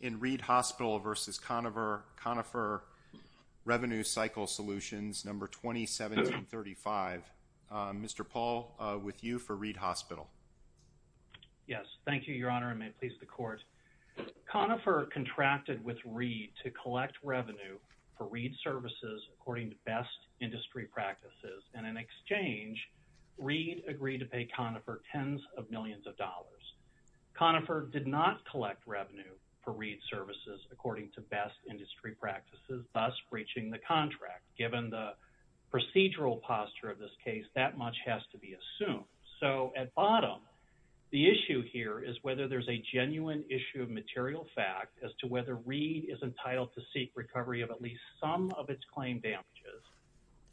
in Reed Hospital v. Conifer Revenue Cycle Solutions, No. 201735. Mr. Paul, with you for Reed Hospital. Yes, thank you, Your Honor, and may it please the Court. Conifer contracted with Reed to collect revenue for Reed Services according to best industry practices, and in exchange, Conifer did not collect revenue for Reed Services according to best industry practices, thus breaching the contract. Given the procedural posture of this case, that much has to be assumed. So at bottom, the issue here is whether there's a genuine issue of material fact as to whether Reed is entitled to seek recovery of at least some of its claim damages,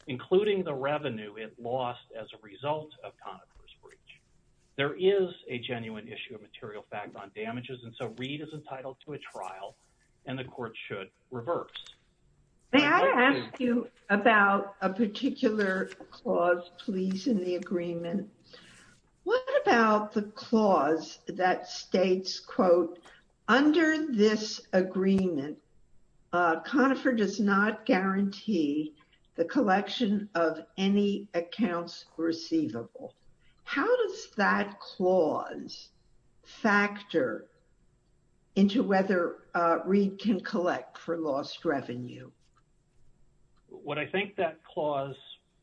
including the revenue it lost as a result of Conifer's breach. There is a genuine issue of material fact on damages, and so Reed is entitled to a trial, and the Court should reverse. May I ask you about a particular clause, please, in the agreement? What about the clause that states, quote, under this agreement, Conifer does not guarantee the collection of any accounts receivable. How does that clause factor into whether Reed can collect for lost revenue? What I think that clause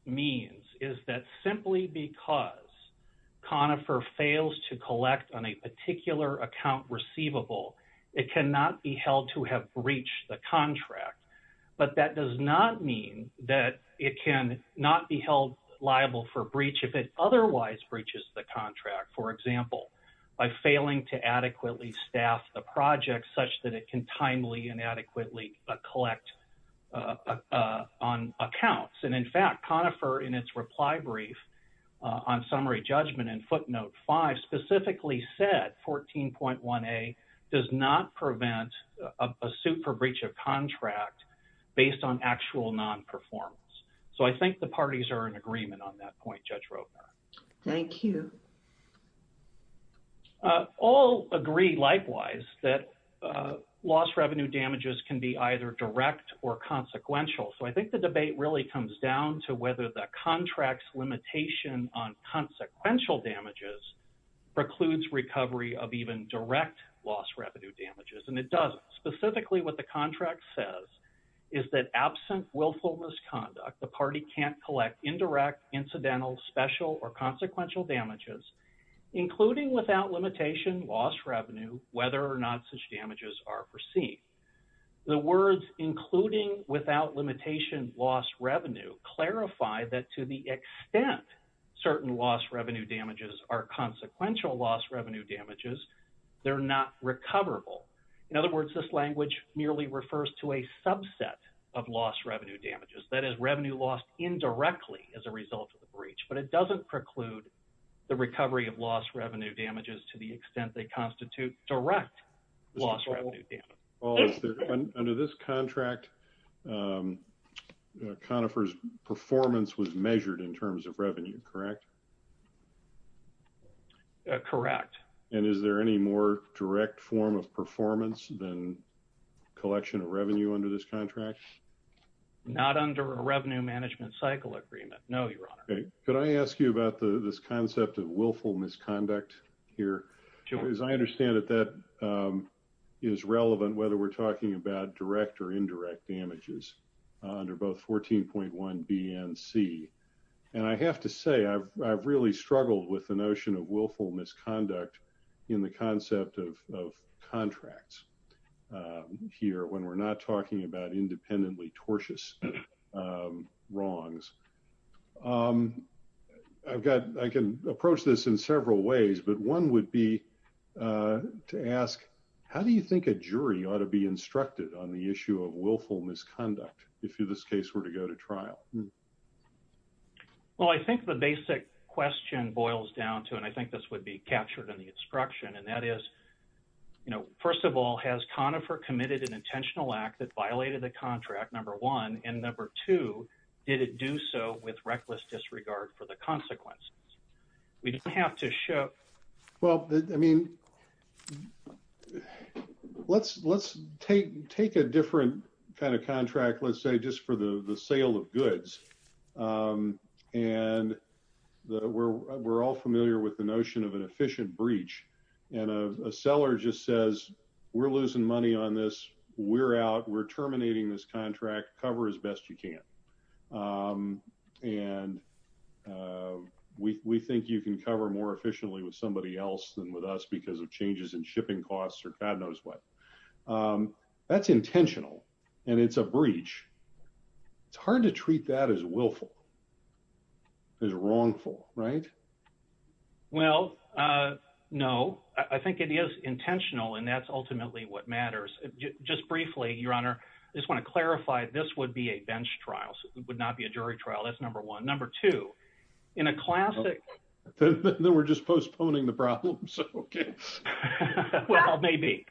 means is that simply because Conifer fails to collect on a particular account receivable, it cannot be held to have breached the contract, but that does not mean that it cannot be held liable for breach. If it otherwise breaches the contract, for example, by failing to adequately staff the project such that it can timely and adequately collect on accounts. And in fact, Conifer, in its reply brief on summary judgment in footnote 5, specifically said 14.1a does not prevent a suit for breach of contract based on actual non-performance. So I think the parties are in agreement on that point, Judge Roeper. Thank you. All agree, likewise, that lost revenue damages can be either direct or consequential. So I think the debate really comes down to whether the contract's limitation on consequential damages precludes recovery of even direct lost revenue damages, and it doesn't. Specifically, what the contract says is that absent willful misconduct, the party can't collect indirect, incidental, special, or consequential damages, including without limitation lost revenue, whether or not such damages are perceived. The words including without limitation lost revenue clarify that to the extent certain lost revenue damages are consequential lost revenue damages, they're not recoverable. In other words, this language merely refers to a subset of lost revenue damages, that is revenue lost indirectly as a result of the breach, but it doesn't preclude the recovery of lost revenue damages to the extent they constitute direct lost revenue damage. Well, under this contract, Conifer's performance was measured in terms of revenue, correct? Correct. And is there any more direct form of performance than collection of revenue under this contract? Not under a revenue management cycle agreement, no, Your Honor. Could I ask you about this concept of willful misconduct here? As I understand it, that is relevant whether we're talking about direct or indirect damages under both 14.1 B and C. And I have to say, I've really struggled with the notion of willful misconduct in the concept of contracts here, when we're not talking about independently tortious wrongs. I've got, I can approach this in several ways, but one would be to ask, how do you think a jury ought to be instructed on the issue of willful misconduct, if this case were to go to trial? Well, I think the basic question boils down to, and I think this would be captured in the instruction, and that is, you know, first of all, has Conifer committed an intentional act that violated the contract, number one, and number two, did it do so with reckless disregard for the consequences? We don't have to show. Well, I mean, let's take a different kind of contract, let's say just for the sale of goods, and we're all familiar with the notion of an efficient breach, and a seller just says, we're losing money on this, we're out, we're terminating this contract, cover as best you can. And we think you can cover more efficiently with somebody else than with us, because of changes in shipping costs or God knows what. That's intentional, and it's a breach. It's hard to treat that as willful, as wrongful, right? Well, no, I think it is intentional, and that's ultimately what matters. Just briefly, Your Honor, I just want to clarify, this would be a bench trial, so it would not be a jury trial. That's number one. Number two, in a classic... Then we're just postponing the problem, so... Well, maybe,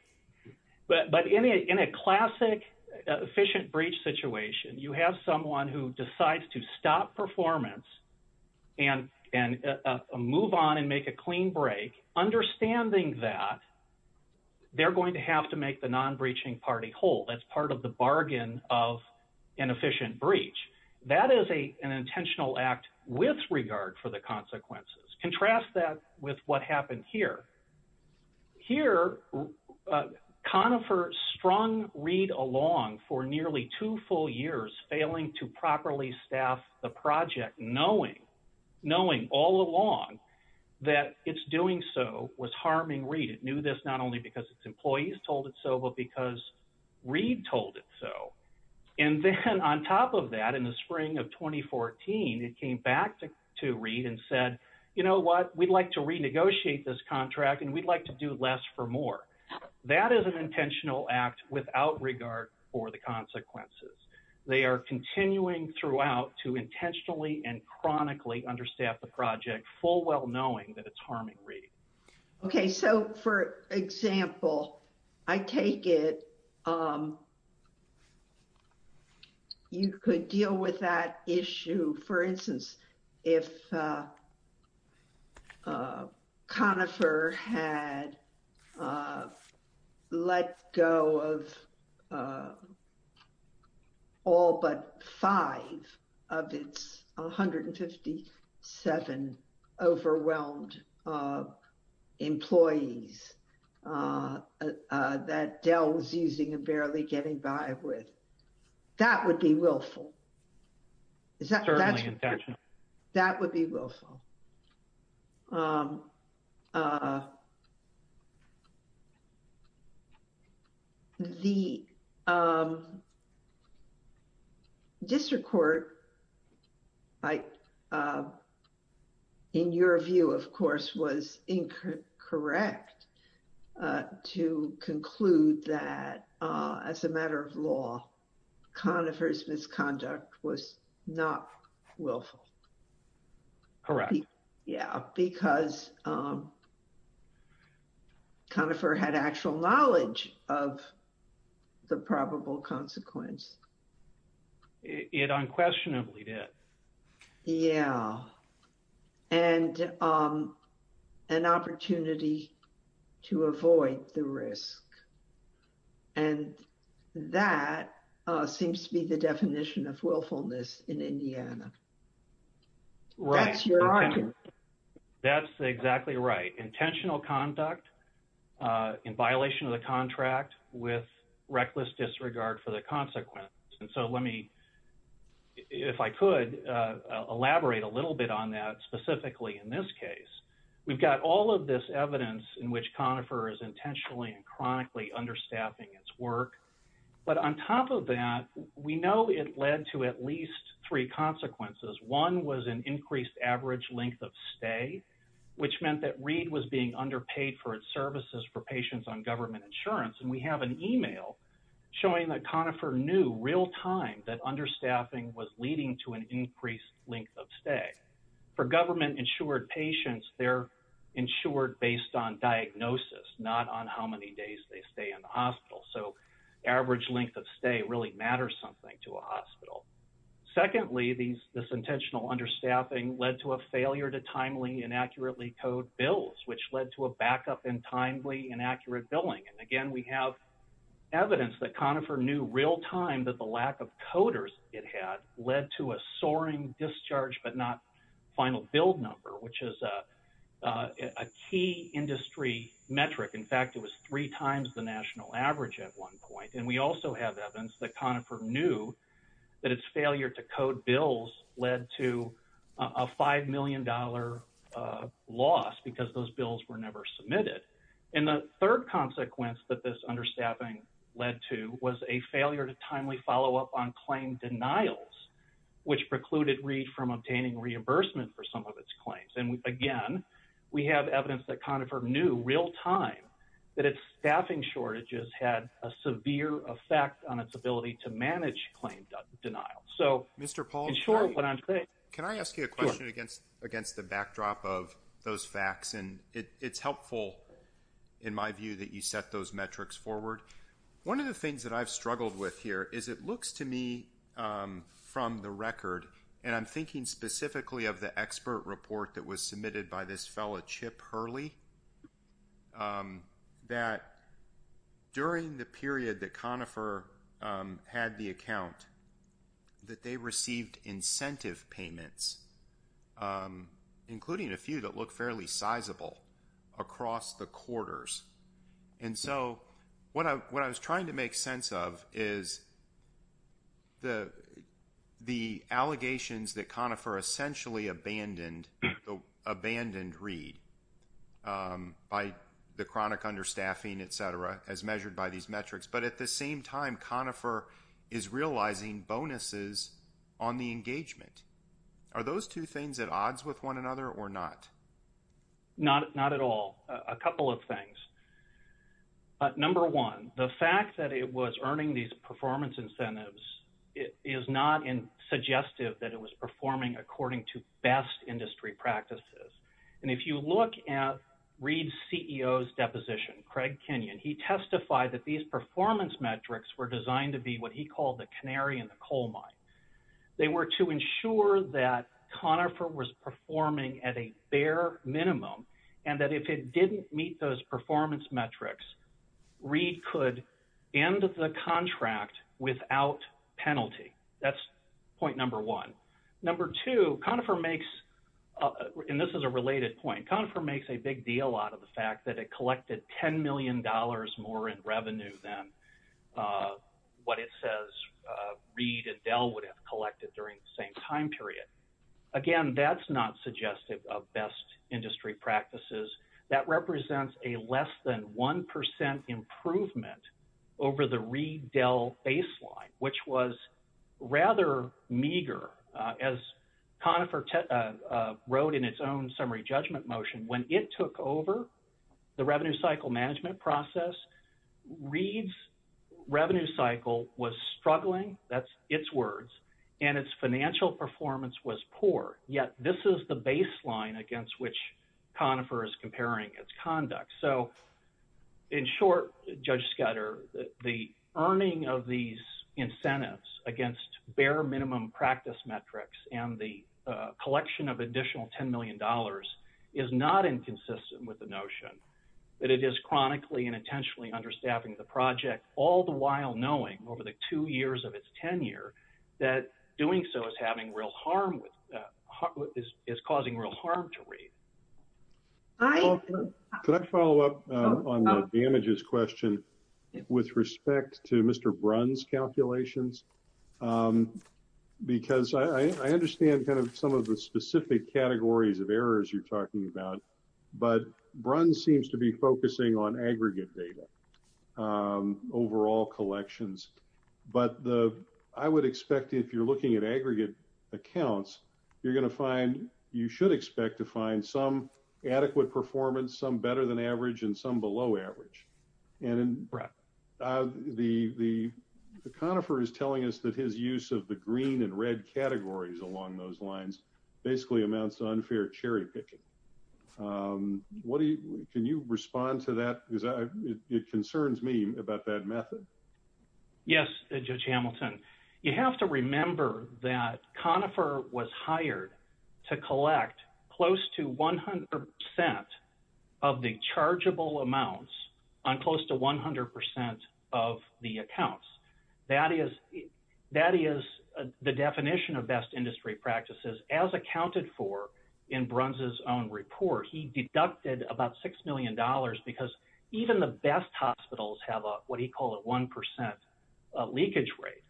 but in a classic efficient breach situation, you have someone who decides to stop performance and move on and make a clean break, understanding that they're going to have to make the non-breaching party whole. That's part of the bargain of an efficient breach. That is an intentional act with regard for the consequences. Contrast that with what happened here. Here, Conifer strung Reid along for nearly two full years, failing to properly staff the project, knowing all along that its doing so was harming Reid. It knew this not only because its employees told it so, but because Reid told it so. And then on top of that, in the spring of 2014, it came back to Reid and said, you know what, we'd like to renegotiate this contract, and we'd like to do less for more. That is an intentional act without regard for the consequences. They are continuing throughout to intentionally and chronically understaff the project, full well knowing that it's harming Reid. Okay, so for example, I take it... You could deal with that issue, for instance, if... Conifer had let go of... All but five of its 157 overwhelmed employees that Dell was using and barely getting by with. That would be willful. Certainly intentional. That would be willful. The district court, in your view, of course, was incorrect to conclude that as a matter of law, Conifer's misconduct was not willful. Correct. Yeah, because Conifer had actual knowledge of the probable consequence. It unquestionably did. Yeah, and an opportunity to avoid the risk. And that seems to be the definition of willfulness in Indiana. That's your argument. That's exactly right. Intentional conduct in violation of the contract with reckless disregard for the consequence. And so let me, if I could, elaborate a little bit on that specifically in this case. We've got all of this evidence in which Conifer is intentionally and chronically understaffing its work. But on top of that, we know it led to at least three consequences. One was an increased average length of stay, which meant that Reed was being underpaid for its services for patients on government insurance. And we have an email showing that Conifer knew real-time that understaffing was leading to an increased length of stay. For government-insured patients, they're insured based on diagnosis, not on how many days they stay in the hospital. So average length of stay really matters something to a hospital. Secondly, this intentional understaffing led to a failure to timely and accurately code bills, which led to a backup in timely and accurate billing. And again, we have evidence that Conifer knew real-time that the lack of coders it had led to a soaring discharge but not final bill number, which is a key industry metric. In fact, it was three times the national average at one point. And we also have evidence that Conifer knew that its failure to code bills led to a $5 million loss because those bills were never submitted. And the third consequence that this understaffing led to was a failure to timely follow-up on claim denials, which precluded Reed from obtaining reimbursement for some of its claims. And again, we have evidence that Conifer knew real-time that its staffing shortages had a severe effect on its ability to manage claim denials. So, in short, what I'm saying— Can I ask you a question against the backdrop of those facts? And it's helpful, in my view, that you set those metrics forward. One of the things that I've struggled with here is it looks to me from the record— and I'm thinking specifically of the expert report that was submitted by this fellow, Chip Hurley— that during the period that Conifer had the account, that they received incentive payments, including a few that look fairly sizable, across the quarters. And so, what I was trying to make sense of is the allegations that Conifer essentially abandoned Reed by the chronic understaffing, etc., as measured by these metrics. But at the same time, Conifer is realizing bonuses on the engagement. Are those two things at odds with one another or not? Not at all. A couple of things. Number one, the fact that it was earning these performance incentives is not suggestive that it was performing according to best industry practices. And if you look at Reed's CEO's deposition, Craig Kenyon, he testified that these performance metrics were designed to be what he called the canary in the coal mine. They were to ensure that Conifer was performing at a bare minimum, and that if it didn't meet those performance metrics, Reed could end the contract without penalty. That's point number one. Number two, Conifer makes, and this is a related point, Conifer makes a big deal out of the fact that it collected $10 million more in revenue than what it says Reed and Dell would have collected during the same time period. Again, that's not suggestive of best industry practices. That represents a less than 1% improvement over the Reed-Dell baseline, which was rather meager. As Conifer wrote in its own summary judgment motion, when it took over the revenue cycle management process, Reed's revenue cycle was struggling. That's its words. And its financial performance was poor. Yet this is the baseline against which Conifer is comparing its conduct. So in short, Judge Scudder, the earning of these incentives against bare minimum practice metrics and the collection of additional $10 million is not inconsistent with the notion that it is chronically and intentionally understaffing the project, all the while knowing, over the two years of its tenure, that doing so is having real harm. It's causing real harm to Reed. Can I follow up on the damages question with respect to Mr. Brun's calculations? Because I understand kind of some of the specific categories of errors you're talking about, but Brun seems to be focusing on aggregate data, overall collections. But I would expect, if you're looking at aggregate accounts, you're going to find, you should expect to find some adequate performance, some better than average, and some below average. And the Conifer is telling us that his use of the green and red categories along those lines basically amounts to unfair cherry picking. What do you, can you respond to that? Because it concerns me about that method. Yes, Judge Hamilton. You have to remember that Conifer was hired to collect close to 100% of the chargeable amounts on close to 100% of the accounts. That is the definition of best industry practices. As accounted for in Brun's own report, he deducted about $6 million because even the best hospitals have what he called a 1% leakage rate.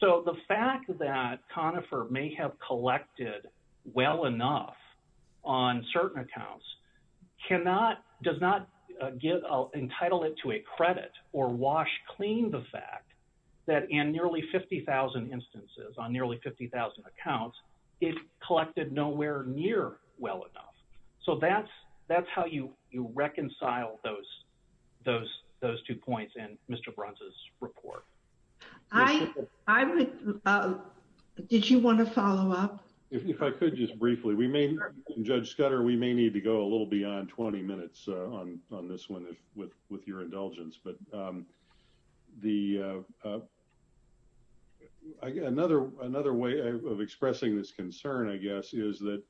So the fact that Conifer may have collected well enough on certain accounts does not entitle it to a credit or wash clean the fact that in nearly 50,000 instances, on nearly 50,000 accounts, it collected nowhere near well enough. So that's how you reconcile those two points in Mr. Brun's report. I would, did you want to follow up? If I could just briefly, we may, Judge Scudder, we may need to go a little beyond 20 minutes on this one with your indulgence. But the, another way of expressing this concern, I guess, is that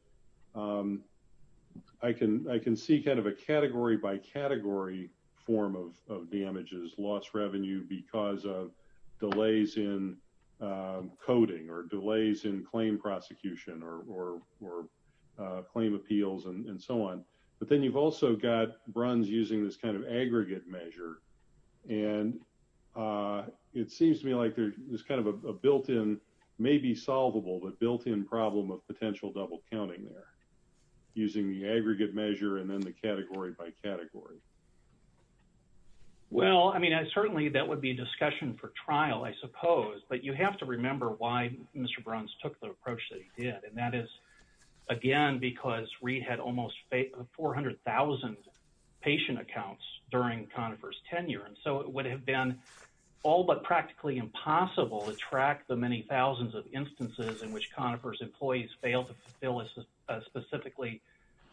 I can see kind of a category by category form of damages, loss revenue because of delays in coding or delays in claim prosecution or claim appeals and so on. But then you've also got Brun's using this kind of aggregate measure and it seems to me like there's kind of a built in, maybe solvable, but built in problem of potential double counting there using the aggregate measure and then the category by category. Well, I mean, certainly that would be a discussion for trial, I suppose, but you have to remember why Mr. Brun's took the approach that he did. And that is, again, because Reed had almost 400,000 patient accounts during Conifer's tenure. And so it would have been all but practically impossible to track the many thousands of instances in which Conifer's employees failed to fulfill a specifically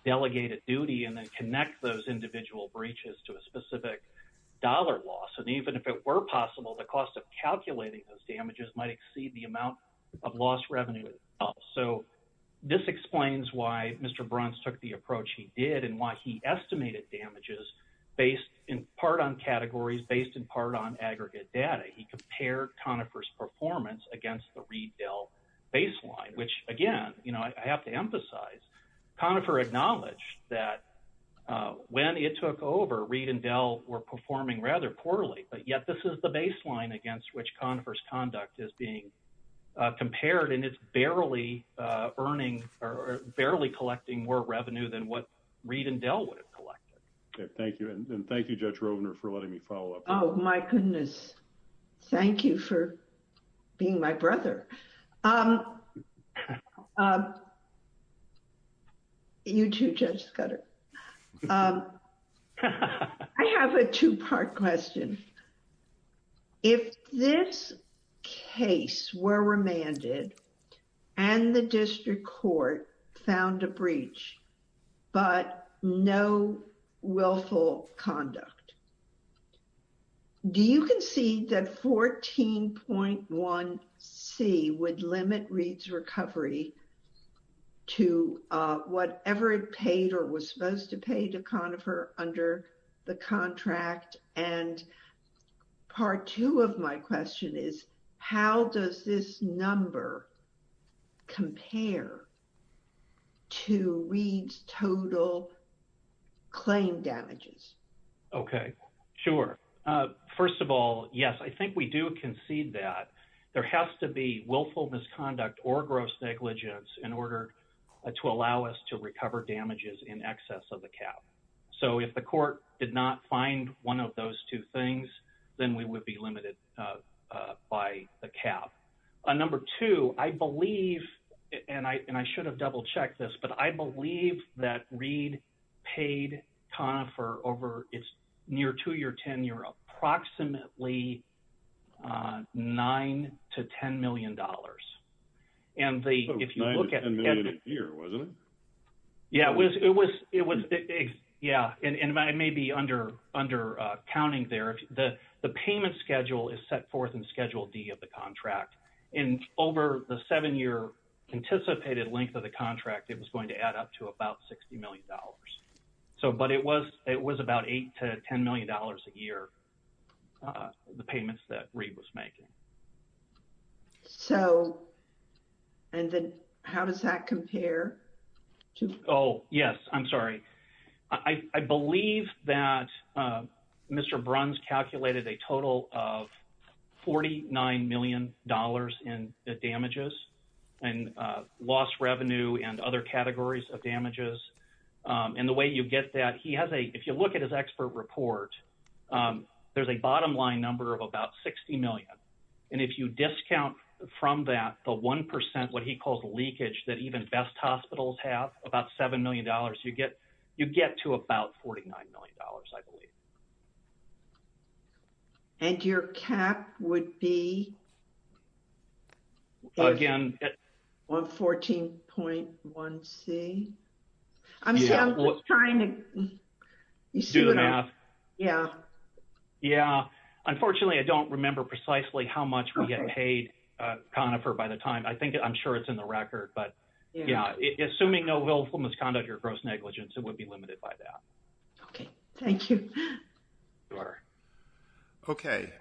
delegated duty and then connect those individual breaches to a specific dollar loss. And even if it were possible, the cost of calculating those damages might exceed the amount of lost revenue. So this explains why Mr. Brun's took the approach he did and why he estimated damages based in part on categories, based in part on aggregate data. He compared Conifer's performance against the Reed-Dell baseline, which again, you know, I have to emphasize, Conifer acknowledged that when it took over, Reed and Dell were performing rather poorly. But yet this is the baseline against which Conifer's conduct is being compared and it's barely earning or barely collecting more revenue than what Reed and Dell would have collected. Thank you. And thank you, Judge Rovner, for letting me follow up. Oh, my goodness. Thank you for being my brother. You too, Judge Scudder. I have a two part question. If this case were remanded and the district court found a breach, but no willful conduct, do you concede that 14.1c would limit Reed's recovery to whatever it paid or was paid for? Well, it was supposed to pay to Conifer under the contract. And part two of my question is, how does this number compare to Reed's total claim damages? Okay. Sure. First of all, yes, I think we do concede that. There has to be willful misconduct or gross negligence in order to allow us to recover damages in excess of the cap. So if the court did not find one of those two things, then we would be limited by the cap. Number two, I believe, and I should have double checked this, but I believe that Reed paid Conifer over its near two-year tenure approximately $9 to $10 million. $9 to $10 million a year, wasn't it? Yeah. It was, yeah, and I may be undercounting there. The payment schedule is set forth in Schedule D of the contract. And over the seven-year anticipated length of the contract, it was going to add up to about $60 million. So, but it was about $8 to $10 million a year, the payments that Reed was making. So, and then how does that compare? Oh, yes, I'm sorry. I believe that Mr. Bruns calculated a total of $49 million in damages and lost revenue and other categories of damages. And the way you get that, he has a, if you look at his expert report, there's a bottom line number of about $60 million. And if you discount from that, the 1%, what he calls leakage, that even best hospitals have, about $7 million, you get to about $49 million, I believe. And your cap would be? Again. 14.1C. I'm trying to. Do the math. Yeah. Yeah. Unfortunately, I don't remember precisely how much we get paid, Conifer, by the time. I'm sure it's in the record. But assuming no willful misconduct or gross negligence, it would be limited by that. Okay. Thank you. Okay.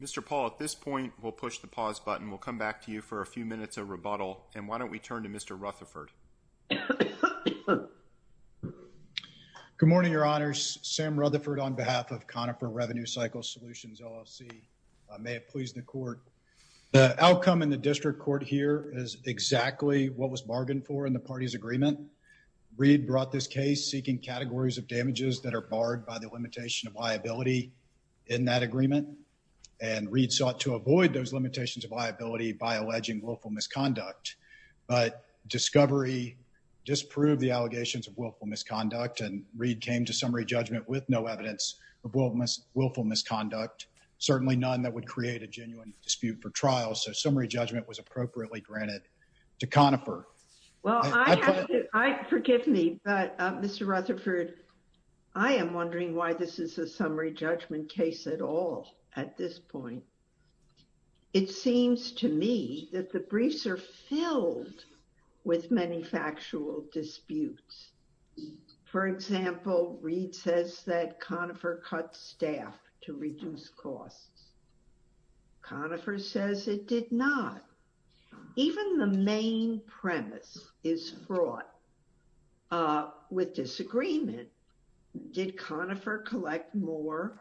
Mr. Paul, at this point, we'll push the pause button. We'll come back to you for a few minutes of rebuttal. And why don't we turn to Mr. Rutherford? Good morning, Your Honors. Sam Rutherford on behalf of Conifer Revenue Cycle Solutions, LLC. May it please the court. The outcome in the district court here is exactly what was bargained for in the party's agreement. Reid brought this case seeking categories of damages that are barred by the limitation of liability in that agreement. And Reid sought to avoid those limitations of liability by alleging willful misconduct. But discovery disproved the allegations of willful misconduct. And Reid came to summary judgment with no evidence of willful misconduct. Certainly none that would create a genuine dispute for trial. So summary judgment was appropriately granted to Conifer. Well, forgive me. But, Mr. Rutherford, I am wondering why this is a summary judgment case at all at this point. It seems to me that the briefs are filled with many factual disputes. For example, Reid says that Conifer cut staff to reduce costs. Conifer says it did not. Even the main premise is fraught with disagreement. Did Conifer collect more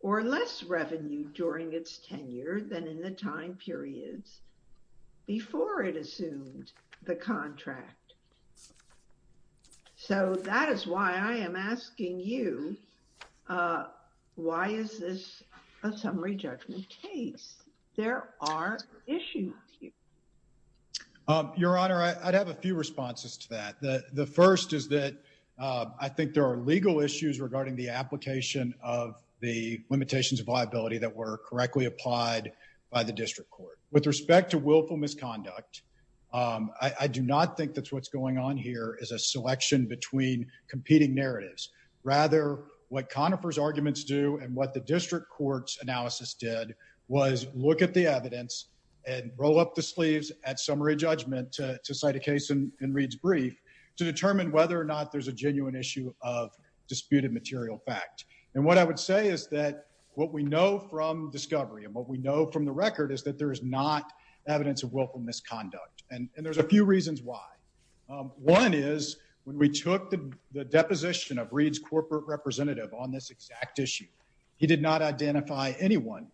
or less revenue during its tenure than in the time periods before it assumed the contract? So that is why I am asking you, why is this a summary judgment case? There are issues here. Your Honor, I'd have a few responses to that. The first is that I think there are legal issues regarding the application of the limitations of liability that were correctly applied by the district court. With respect to willful misconduct, I do not think that's what's going on here is a selection between competing narratives. Rather, what Conifer's arguments do and what the district court's analysis did was look at the evidence and roll up the sleeves at summary judgment to cite a case in Reid's brief. To determine whether or not there's a genuine issue of disputed material fact. And what I would say is that what we know from discovery and what we know from the record is that there is not evidence of willful misconduct. And there's a few reasons why. One is when we took the deposition of Reid's corporate representative on this exact issue, he did not identify anyone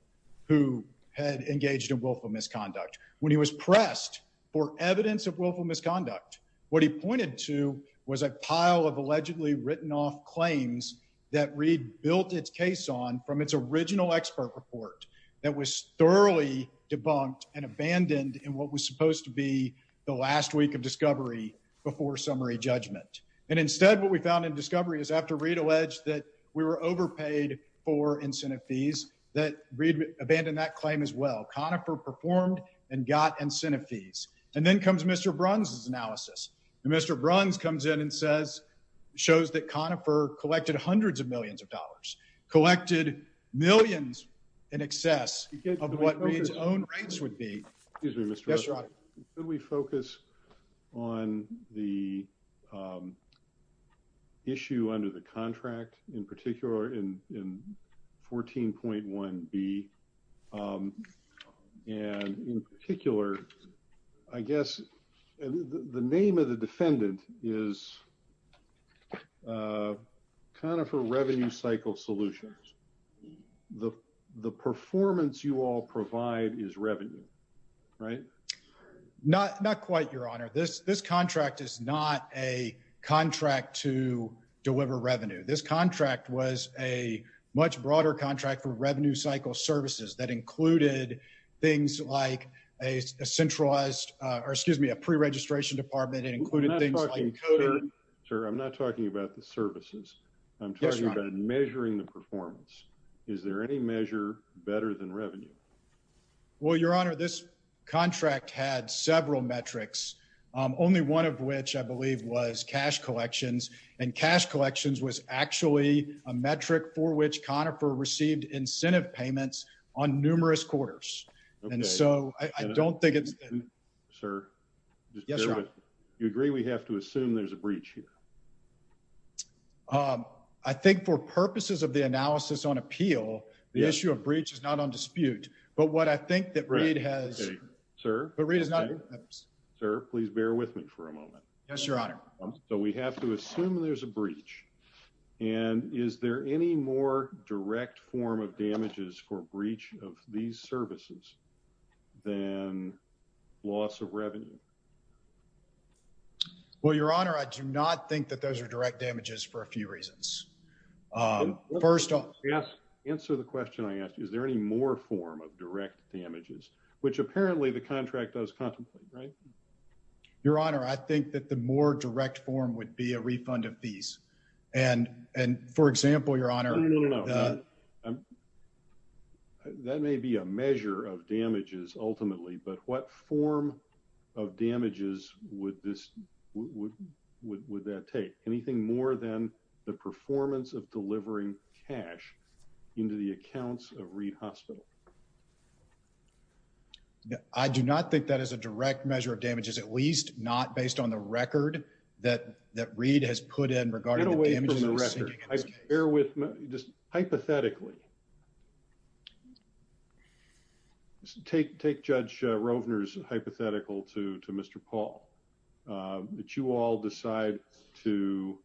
who had engaged in willful misconduct. When he was pressed for evidence of willful misconduct, what he pointed to was a pile of allegedly written off claims that Reid built its case on from its original expert report that was thoroughly debunked and abandoned in what was supposed to be the last week of discovery before summary judgment. And instead, what we found in discovery is after Reid alleged that we were overpaid for incentive fees, that Reid abandoned that claim as well. Conifer performed and got incentive fees. And then comes Mr. Bruns' analysis. And Mr. Bruns comes in and says, shows that Conifer collected hundreds of millions of dollars. Collected millions in excess of what Reid's own rates would be. Excuse me, Mr. Russell. Yes, Ron. Could we focus on the issue under the contract in particular in 14.1B? And in particular, I guess the name of the defendant is Conifer Revenue Cycle Solutions. The performance you all provide is revenue, right? Not quite, Your Honor. This contract is not a contract to deliver revenue. This contract was a much broader contract for revenue cycle services that included things like a centralized or excuse me, a preregistration department and included things like coding. Sir, I'm not talking about the services. I'm talking about measuring the performance. Is there any measure better than revenue? Well, Your Honor, this contract had several metrics, only one of which I believe was cash collections. And cash collections was actually a metric for which Conifer received incentive payments on numerous quarters. And so I don't think it's. Sir. Yes, Your Honor. You agree we have to assume there's a breach here? I think for purposes of the analysis on appeal, the issue of breach is not on dispute. But what I think that Reid has. Sir. But Reid is not. Sir, please bear with me for a moment. Yes, Your Honor. So we have to assume there's a breach. And is there any more direct form of damages for breach of these services than loss of revenue? Well, Your Honor, I do not think that those are direct damages for a few reasons. First off. Yes. Answer the question I asked. Is there any more form of direct damages? Which apparently the contract does contemplate, right? Your Honor, I think that the more direct form would be a refund of these. And for example, Your Honor. No, no, no. That may be a measure of damages ultimately. But what form of damages would that take? Anything more than the performance of delivering cash into the accounts of Reid Hospital? I do not think that is a direct measure of damages. At least not based on the record that Reid has put in regarding the damages. Get away from the record. Bear with me. Just hypothetically. Take Judge Rovner's hypothetical to Mr. Paul. That you all decide to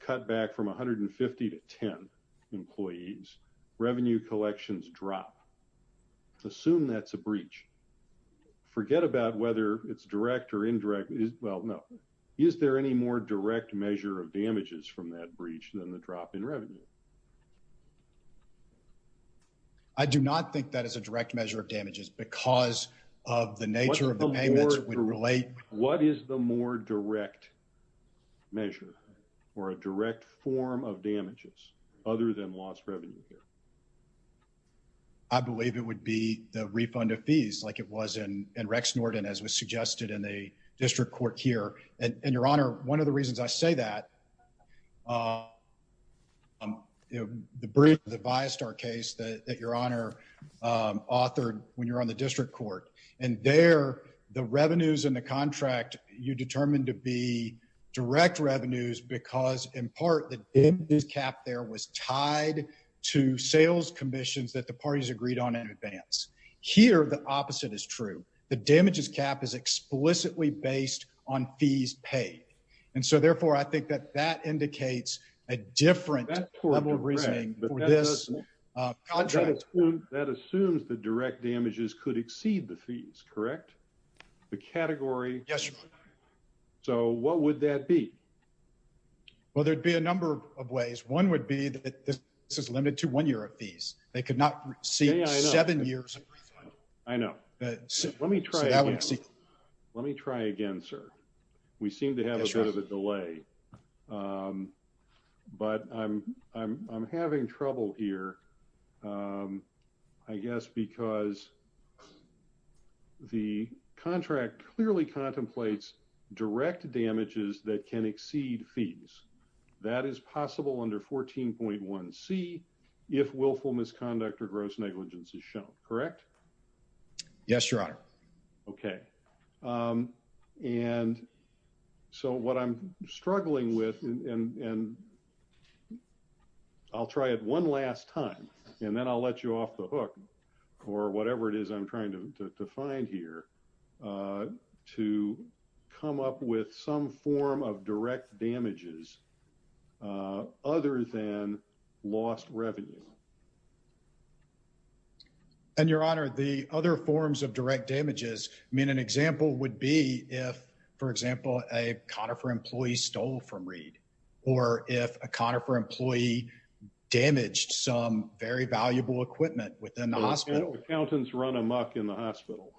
cut back from 150 to 10 employees. Revenue collections drop. Assume that's a breach. Forget about whether it's direct or indirect. Well, no. Is there any more direct measure of damages from that breach than the drop in revenue? I do not think that is a direct measure of damages. Because of the nature of the payments would relate. What is the more direct measure? Or a direct form of damages? Other than lost revenue here? I believe it would be the refund of fees like it was in Rex Norton. As was suggested in the district court here. And your honor, one of the reasons I say that. The breach of the Viastar case that your honor authored when you were on the district court. And there, the revenues in the contract, you determined to be direct revenues. Because in part, the damages cap there was tied to sales commissions that the parties agreed on in advance. Here, the opposite is true. The damages cap is explicitly based on fees paid. And so, therefore, I think that that indicates a different level of reasoning for this contract. That assumes the direct damages could exceed the fees, correct? The category? Yes, your honor. So, what would that be? Well, there would be a number of ways. One would be that this is limited to one year of fees. They could not receive seven years of refund. I know. Let me try again. Let me try again, sir. We seem to have a bit of a delay. But I'm having trouble here. I guess because the contract clearly contemplates direct damages that can exceed fees. That is possible under 14.1c if willful misconduct or gross negligence is shown, correct? Yes, your honor. Okay. And so, what I'm struggling with, and I'll try it one last time. And then I'll let you off the hook. Or whatever it is I'm trying to find here. To come up with some form of direct damages other than lost revenue. And your honor, the other forms of direct damages. I mean, an example would be if, for example, a Conifer employee stole from Reed. Or if a Conifer employee damaged some very valuable equipment within the hospital. Accountants run amok in the hospital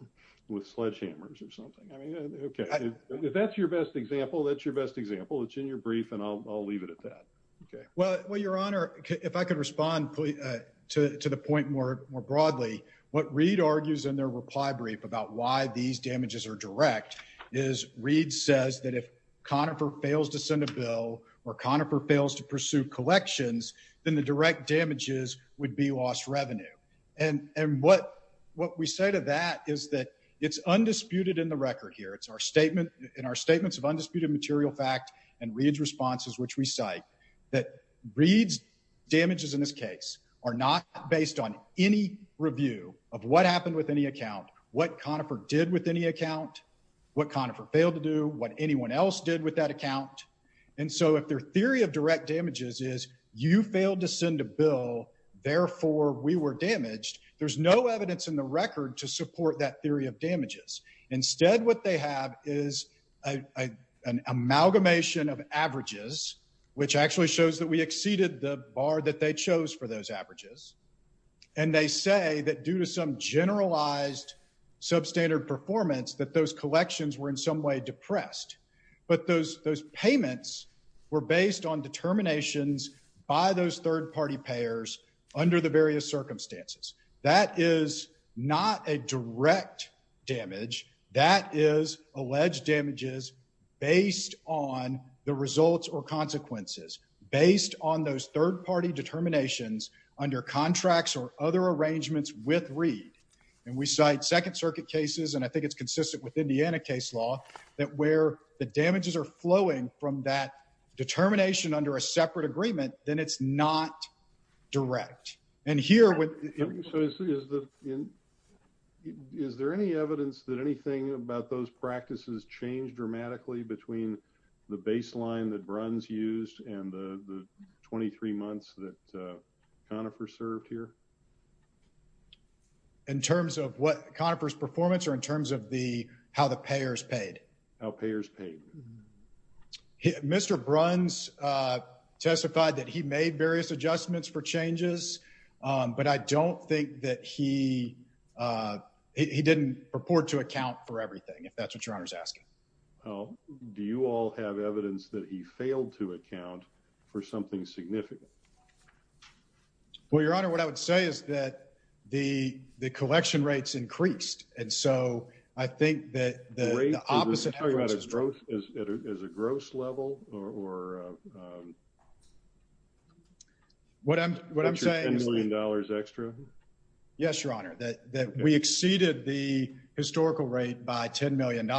with sledgehammers or something. I mean, okay. If that's your best example, that's your best example. It's in your brief and I'll leave it at that. Well, your honor, if I could respond to the point more broadly. What Reed argues in their reply brief about why these damages are direct. Is Reed says that if Conifer fails to send a bill or Conifer fails to pursue collections. Then the direct damages would be lost revenue. And what we say to that is that it's undisputed in the record here. It's in our statements of undisputed material fact and Reed's responses which we cite. That Reed's damages in this case are not based on any review of what happened with any account. What Conifer did with any account. What Conifer failed to do. What anyone else did with that account. And so if their theory of direct damages is you failed to send a bill. Therefore we were damaged. There's no evidence in the record to support that theory of damages. Instead what they have is an amalgamation of averages. Which actually shows that we exceeded the bar that they chose for those averages. And they say that due to some generalized substandard performance. That those collections were in some way depressed. But those payments were based on determinations by those third party payers. Under the various circumstances. That is not a direct damage. That is alleged damages based on the results or consequences. Based on those third party determinations under contracts or other arrangements with Reed. And we cite second circuit cases. And I think it's consistent with Indiana case law. That where the damages are flowing from that determination under a separate agreement. Then it's not direct. And here. Is there any evidence that anything about those practices changed dramatically. Between the baseline that Bruns used and the 23 months that Conifer served here. In terms of what Conifer's performance or in terms of how the payers paid. How payers paid. Mr. Bruns testified that he made various adjustments for changes. But I don't think that he didn't purport to account for everything. If that's what your honor is asking. Do you all have evidence that he failed to account for something significant? Well your honor. What I would say is that the collection rates increased. And so I think that the opposite. Is a gross level? Or. What I'm saying is. $10 million extra. Yes your honor. That we exceeded the historical rate by $10 million.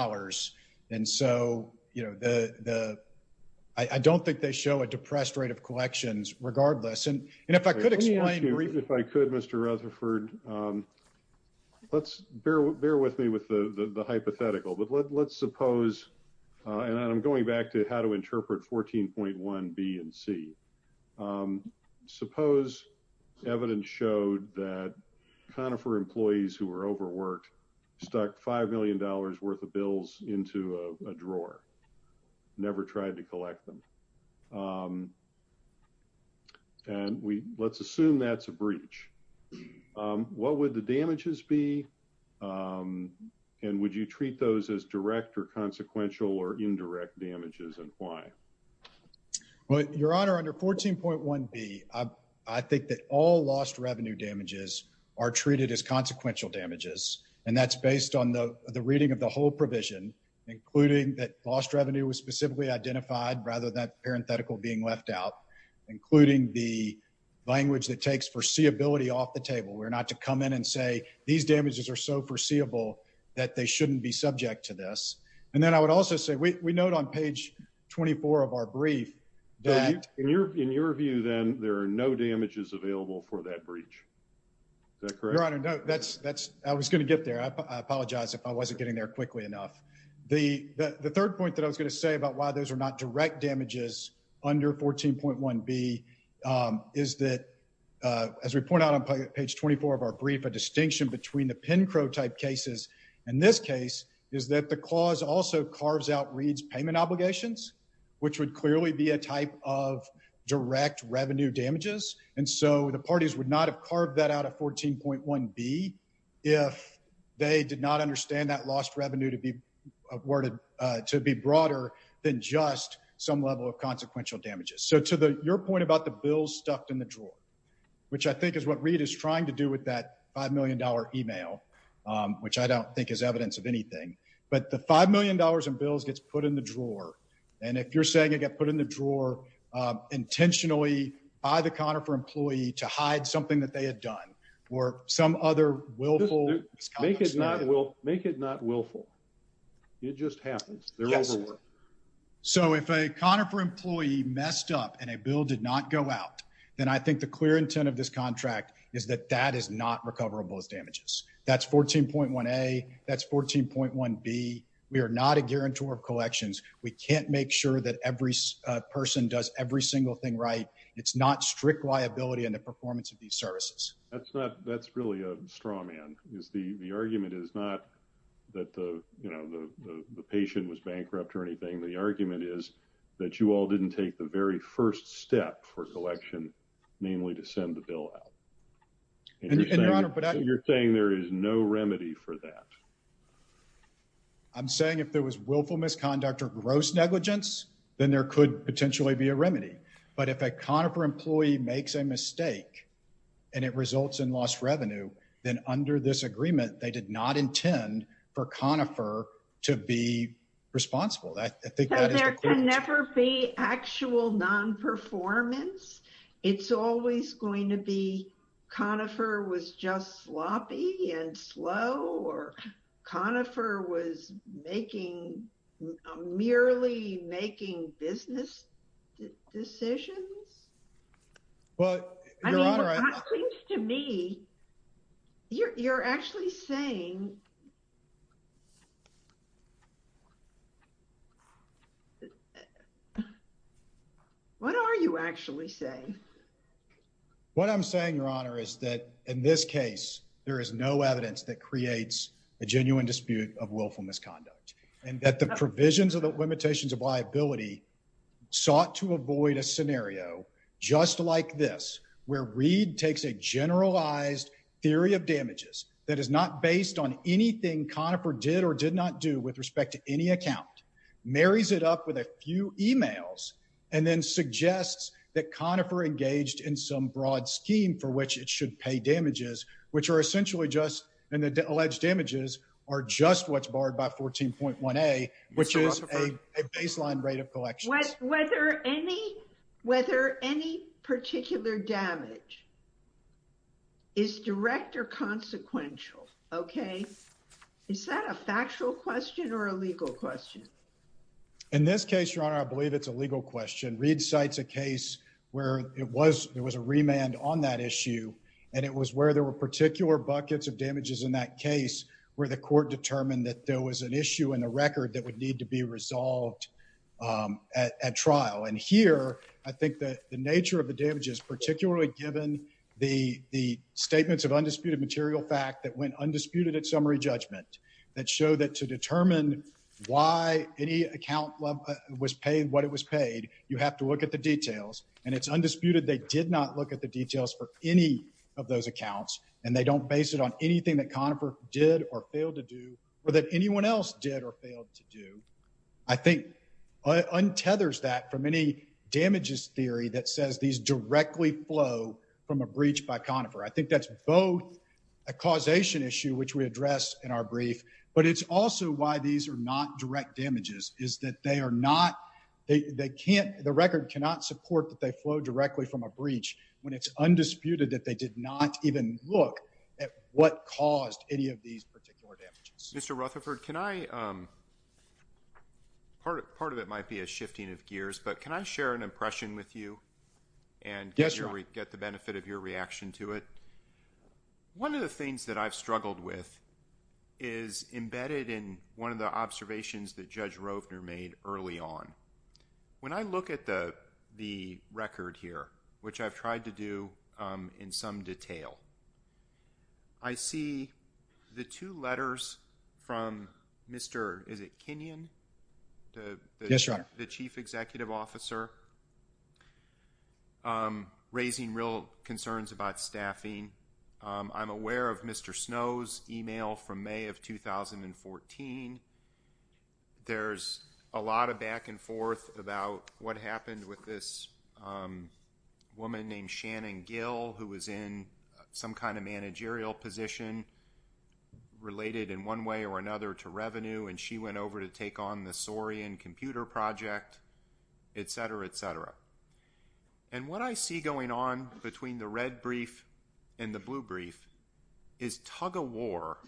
And so. I don't think they show a depressed rate of collections regardless. And if I could explain. If I could Mr. Rutherford. Let's bear with me with the hypothetical. But let's suppose. And I'm going back to how to interpret 14.1 B and C. Suppose evidence showed that Conifer employees who were overworked. Stuck $5 million worth of bills into a drawer. Never tried to collect them. And let's assume that's a breach. What would the damages be? And would you treat those as direct or consequential or indirect damages? And why? Well your honor. Under 14.1 B. I think that all lost revenue damages are treated as consequential damages. And that's based on the reading of the whole provision. Including that lost revenue was specifically identified. Rather than parenthetical being left out. And I'm sorry. There's a lot of damage that goes into this. Including the language that takes foreseeability off the table. We're not to come in and say these damages are so foreseeable. That they shouldn't be subject to this. And then I would also say, we note on page 24 of our brief. That in your in your view, then there are no damages available for that breach. Is that correct? Your honor. That's that's I was going to get there. I apologize if I wasn't getting there quickly enough. The third point that I was going to say about why those are not direct damages. Under 14.1 B. Is that. As we point out on page 24 of our brief. A distinction between the pin crow type cases. And this case. Is that the cause also carves out reads payment obligations. Which would clearly be a type of direct revenue damages. And so the parties would not have carved that out of 14.1 B. If. They did not understand that lost revenue to be. A word to be broader than just some level of consequential damages. So to the, your point about the bills stuffed in the drawer. Which I think is what read is trying to do with that $5 million email. Which I don't think is evidence of anything. But the $5 million in bills gets put in the drawer. And if you're saying it got put in the drawer. Intentionally by the counter for employee to hide something that they had done. Or some other willful. Make it not. We'll make it not willful. It just happens. They're overworked. So if a counter for employee messed up and a bill did not go out. Then I think the clear intent of this contract. Is that that is not recoverable as damages. That's 14.1. A that's 14.1 B. We are not a guarantor of collections. We can't make sure that every person does every single thing. Right. It's not strict liability in the performance of these services. That's not. That's really a straw man. Is the argument is not. That the, you know, the, the, the patient was bankrupt or anything. The argument is. That you all didn't take the very first step for collection. Namely to send the bill out. You're saying there is no remedy for that. I'm saying if there was willful misconduct or gross negligence. Then there could potentially be a remedy. But if a counter for employee makes a mistake. And it results in lost revenue. Then under this agreement, they did not intend for conifer to be responsible. I think. There can never be actual non-performance. It's always going to be. Conifer was just sloppy and slow or. Conifer was making. Merely making business. Decisions. Well. To me. You're actually saying. What are you actually saying? What I'm saying, your honor, is that in this case. There is no evidence that creates. A genuine dispute of willful misconduct. And that the provisions of the limitations of liability. Sought to avoid a scenario. Just like this. Where Reed takes a generalized. Theory of damages. That is not based on anything. Conifer did or did not do with respect to any account. Marries it up with a few emails. And then suggests. That conifer engaged in some broad scheme. For which it should pay damages. Which are essentially just. And the alleged damages. Are just what's barred by 14.1 a. Which is a baseline rate of collection. Whether any. Whether any particular damage. Is direct or consequential. Okay. Is that a factual question or a legal question? In this case, your honor, I believe it's a legal question. Read sites a case where it was. There was a remand on that issue. And it was where there were particular buckets of damages in that case. Where the court determined that there was an issue in the record. That would need to be resolved. At trial and here. I think that the nature of the damages, particularly given the. The statements of undisputed material fact that went undisputed at summary judgment. That show that to determine. Why any account. Was paid what it was paid. You have to look at the details and it's undisputed. They did not look at the details for any. Of those accounts. And they don't base it on anything that conifer did or failed to do. Or that anyone else did or failed to do. I think. It's undisputed that they did not even look at what caused any of these particular damages. Mr. Rutherford. Mr. Rutherford. Can I. Part of part of it might be. A shifting of gears, but can I share an impression with you? And guess where we get the benefit of your reaction to it. One of the things that I've struggled with. Is embedded in one of the observations that judge Roe. Made early on. When I look at the. The record here, which I've tried to do. In some detail. I see. The two letters. From Mr. Rutherford. To the chief executive officer. Is it Kenyan? The chief executive officer. Raising real. Concerns about staffing. I'm aware of Mr. Snow's email from may of 2014. There's. A lot of back and forth. About what happened with this. Woman named Shannon Gill. Who was in. Some kind of managerial position. Related in one way or another. To revenue and she went over to take on. The story and computer project. Et cetera, et cetera. And what I see going on. Between the red brief. And the blue brief. Is tug of war.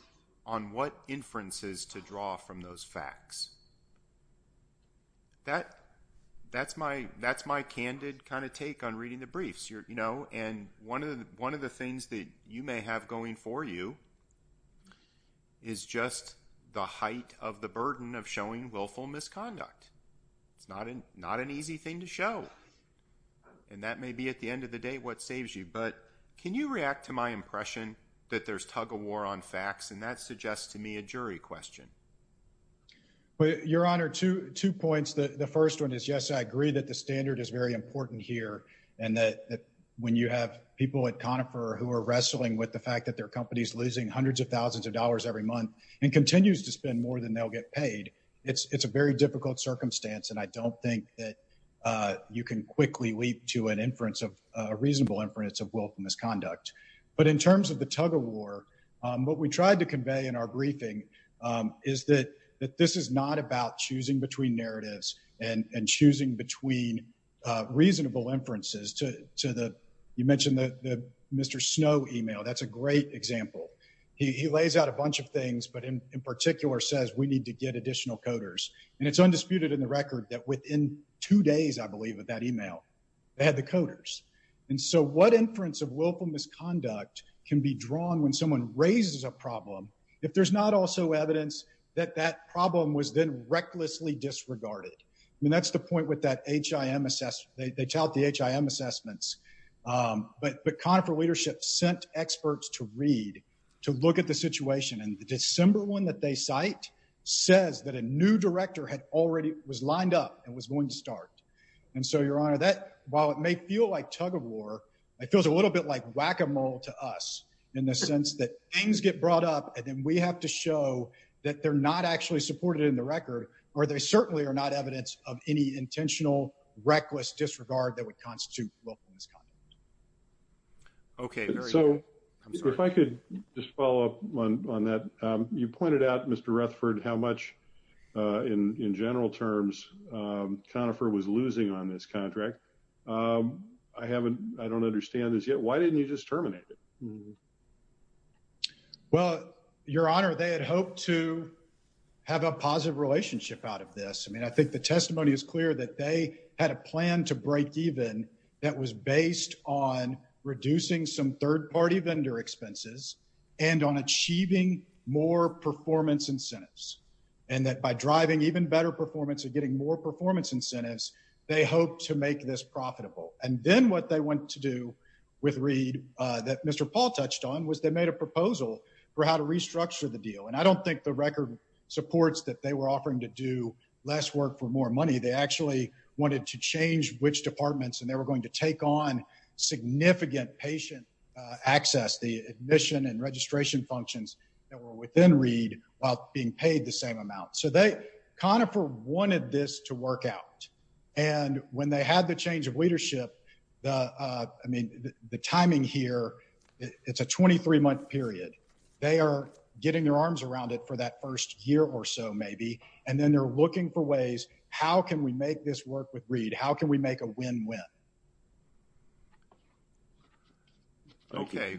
On what inferences to draw. From those facts. That. That's my that's my candid. Kind of take on reading the briefs. You know and one of the one of the things. That you may have going for you. Is just. The height of the burden of showing. Willful misconduct. It's not an not an easy thing to show. And that may be at the end of the day. What saves you. But can you react to my impression. That there's tug of war on facts. And that suggests to me a jury question. But your honor. To two points. The first one is yes. I agree that the standard is very important here. And that when you have people at. Conifer who are wrestling with the fact that their. Companies losing hundreds of thousands of dollars every month. And continues to spend more than they'll get paid. It's a very difficult circumstance. And I don't think that. You can quickly leap to an inference of. A reasonable inference of willful misconduct. But in terms of the tug of war. What we tried to convey in our briefing. Is that this is not about choosing between narratives. And choosing between. The reasonable inferences to the. You mentioned that. Mr. Snow email. That's a great example. He lays out a bunch of things. But in particular says we need to get additional coders. And it's undisputed in the record that within two days. I believe with that email. They had the coders. And so what inference of willful misconduct. Can be drawn when someone raises a problem. If there's not also evidence. That that problem was then recklessly disregarded. And that's the point with that H. I. M assessment. They tout the H. I. M assessments. But the confer leadership sent experts to read. To look at the situation. And the December one that they cite. Says that a new director had already was lined up. And was going to start. And so your honor that while it may feel like tug of war. It feels a little bit like whack-a-mole to us. In the sense that things get brought up. And then we have to show. That they're not actually supported in the record. Or they certainly are not evidence of any intentional. Reckless disregard that would constitute. Okay. I'm sorry. If I could just follow up on that. You pointed out Mr. Rutherford, how much. In general terms. Conifer was losing on this contract. I haven't. I don't understand this yet. Why didn't you just terminate it? Well, your honor. They had hoped to. Have a positive relationship out of this. I mean, I think the testimony is clear. That they had a plan to break even. That was based on. Reducing some third party vendor expenses. And on achieving more performance incentives. And that by driving even better performance. And getting more performance incentives. And then what they want to do. With read that Mr. Paulson. I don't think the record. Supports that they were offering to do. Less work for more money. They actually wanted to change which departments. And they were going to take on. Significant patient. Access the admission and registration functions. That were within read. While being paid the same amount. So they kind of. Wanted this to work out. And when they had the change of leadership. The I mean. The timing here. It's a 23 month period. They are getting their arms around it. For that first year or so maybe. And then they're looking for ways. How can we make this work with read? How can we make a win win? Okay.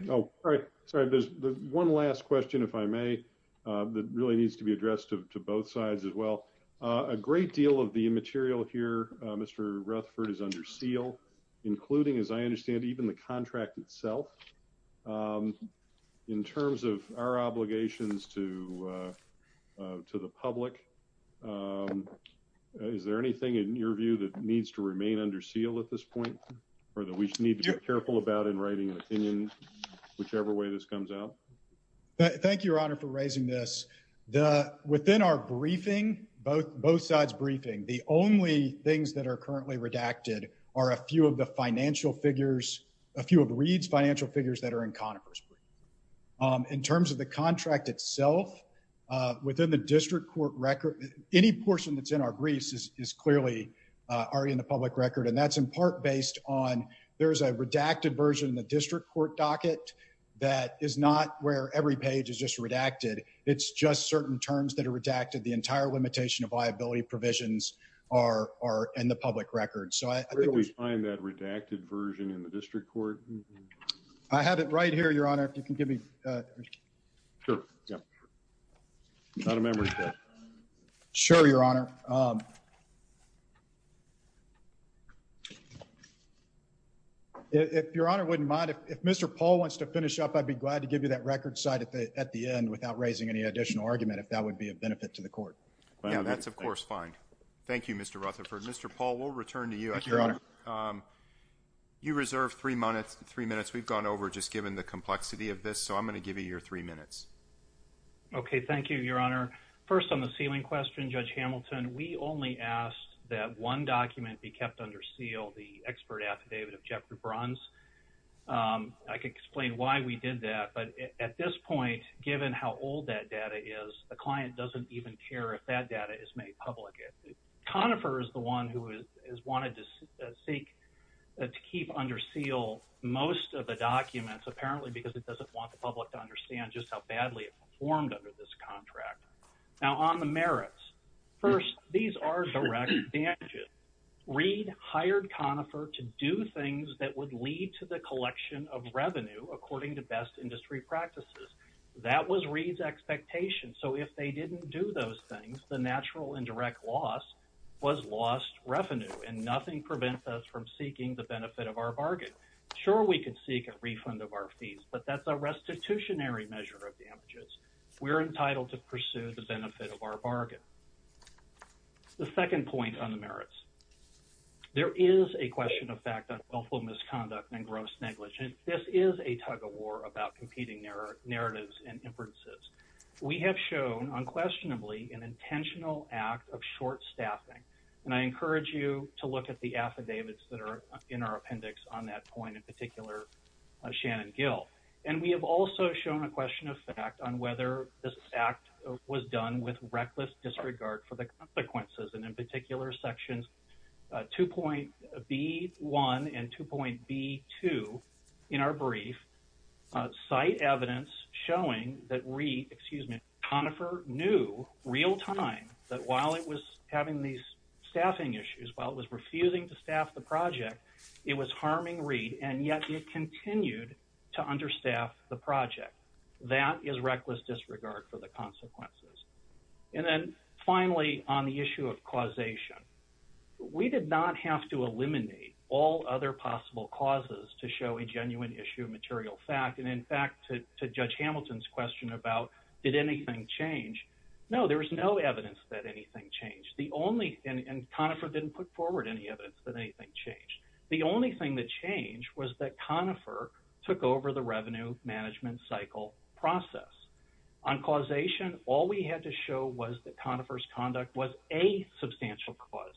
Sorry there's one last question if I may. That really needs to be addressed. To both sides as well. A great deal of the material here. Mr Rutherford is under seal. Including as I understand. Even the contract itself. In terms of. Our obligations to. To the public. Is there anything in your view that needs to remain. Under seal at this point. Or that we need to be careful about in writing. An opinion. Whichever way this comes out. Thank you your honor for raising this. Within our briefing. Both sides briefing. The only things that are currently redacted. Are a few of the financial figures. A few of the reads financial figures. That are in Conifer's brief. In terms of the contract itself. Within the district court record. Any portion that's in our briefs. Is clearly. Already in the public record. And that's in part based on. There's a redacted version. In the district court docket. That is not where every page is just redacted. It's just certain terms that are redacted. The entire limitation of liability provisions. Are in the public record. Where do we find that redacted version. In the district court. I have it right here your honor. If you can give me. Sure. Not a memory. Sure your honor. If your honor wouldn't mind. If Mr. Paul wants to finish up. I'd be glad to give you that record side at the end. Without raising any additional argument. If that would be a benefit to the court. That's of course fine. Thank you Mr. Rutherford. Mr. Paul will return to you. You reserve three minutes. We've gone over just given the complexity of this. So I'm going to give you your three minutes. Okay. Thank you your honor. First on the ceiling question. Judge Hamilton. We only asked that one document be kept under seal. The expert affidavit of Jeffrey bronze. I could explain why we did that. But at this point, given how old that data is, the client doesn't even care. If that data is made public. Conifer is the one who is, is wanted to seek. To keep under seal. Most of the documents apparently, because it doesn't want the public to understand just how badly. Formed under this contract. Now on the merits. First, these are direct. Read hired Conifer to do things that would lead to the collection. Of revenue, according to best industry practices. That was reads expectation. So if they didn't do those things, the natural indirect loss. Was lost revenue and nothing prevents us from seeking the benefit of our bargain. Sure. We could seek a refund of our fees, but that's a restitutionary measure of damages. We're entitled to pursue the benefit of our bargain. The second point on the merits. There is a question of fact. Misconduct and gross negligence. This is a tug of war about competing narrow narratives and inferences. We have shown unquestionably an intentional act of short staffing. And I encourage you to look at the affidavits that are in our appendix on that point in particular. Shannon Gill. And we have also shown a question of fact on whether this act was done with reckless disregard for the consequences. And in particular sections. Two point B one and two point B two. In our brief. Site evidence showing that re excuse me. Conifer knew real time that while it was having these staffing issues while it was refusing to staff the project, it was harming read. And yet you continued to understaff the project. That is reckless disregard for the consequences. And then finally on the issue of causation. We did not have to eliminate all other possible causes to show a genuine issue of material fact. And in fact, to judge Hamilton's question about, did anything change? No, there was no evidence that anything changed. The only, and Conifer didn't put forward any evidence that anything changed. The only thing that changed was that Conifer took over the revenue management cycle process. And the only thing that changed was that Conifer's conduct was a substantial cause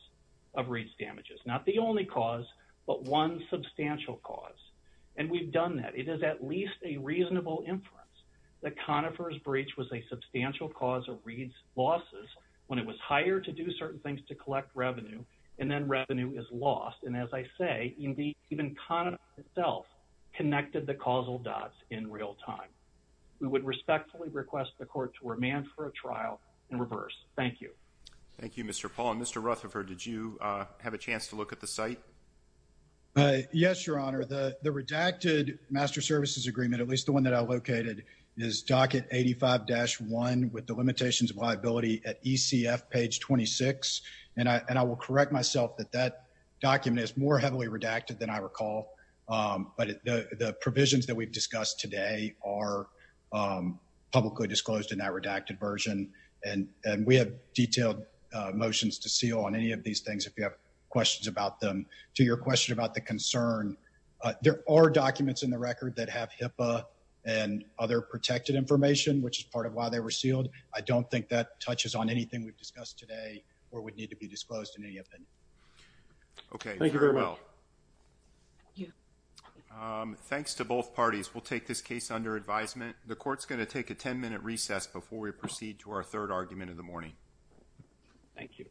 of reads damages. Not the only cause, but one substantial cause. And we've done that. It is at least a reasonable inference. The Conifer's breach was a substantial cause of reads losses when it was higher to do certain things, to collect revenue. And then revenue is lost. And as I say, indeed, even kind of itself. Connected the causal dots in real time. We would respectfully request the court to remand for a trial in reverse. Thank you. Thank you, Mr. Paul and Mr. Rutherford. Did you have a chance to look at the site? Yes, your Honor. The, the redacted master services agreement, at least the one that I located is docket 85 dash one with the limitations of liability at ECF page 26. And I, and I will correct myself that that document is more heavily redacted than I recall. But the, the provisions that we've discussed today are publicly disclosed in that redacted version. And, and we have detailed motions to seal on any of these things. If you have questions about them to your question about the concern, there are documents in the record that have HIPAA and other protected information, which is part of why they were sealed. I don't think that touches on anything we've discussed today or would need to be disclosed in any event. Okay. Thank you very well. Yeah. Thanks to both parties. We'll take this case under advisement. The court's going to take a 10 minute recess before we proceed to our third argument in the morning. Thank you.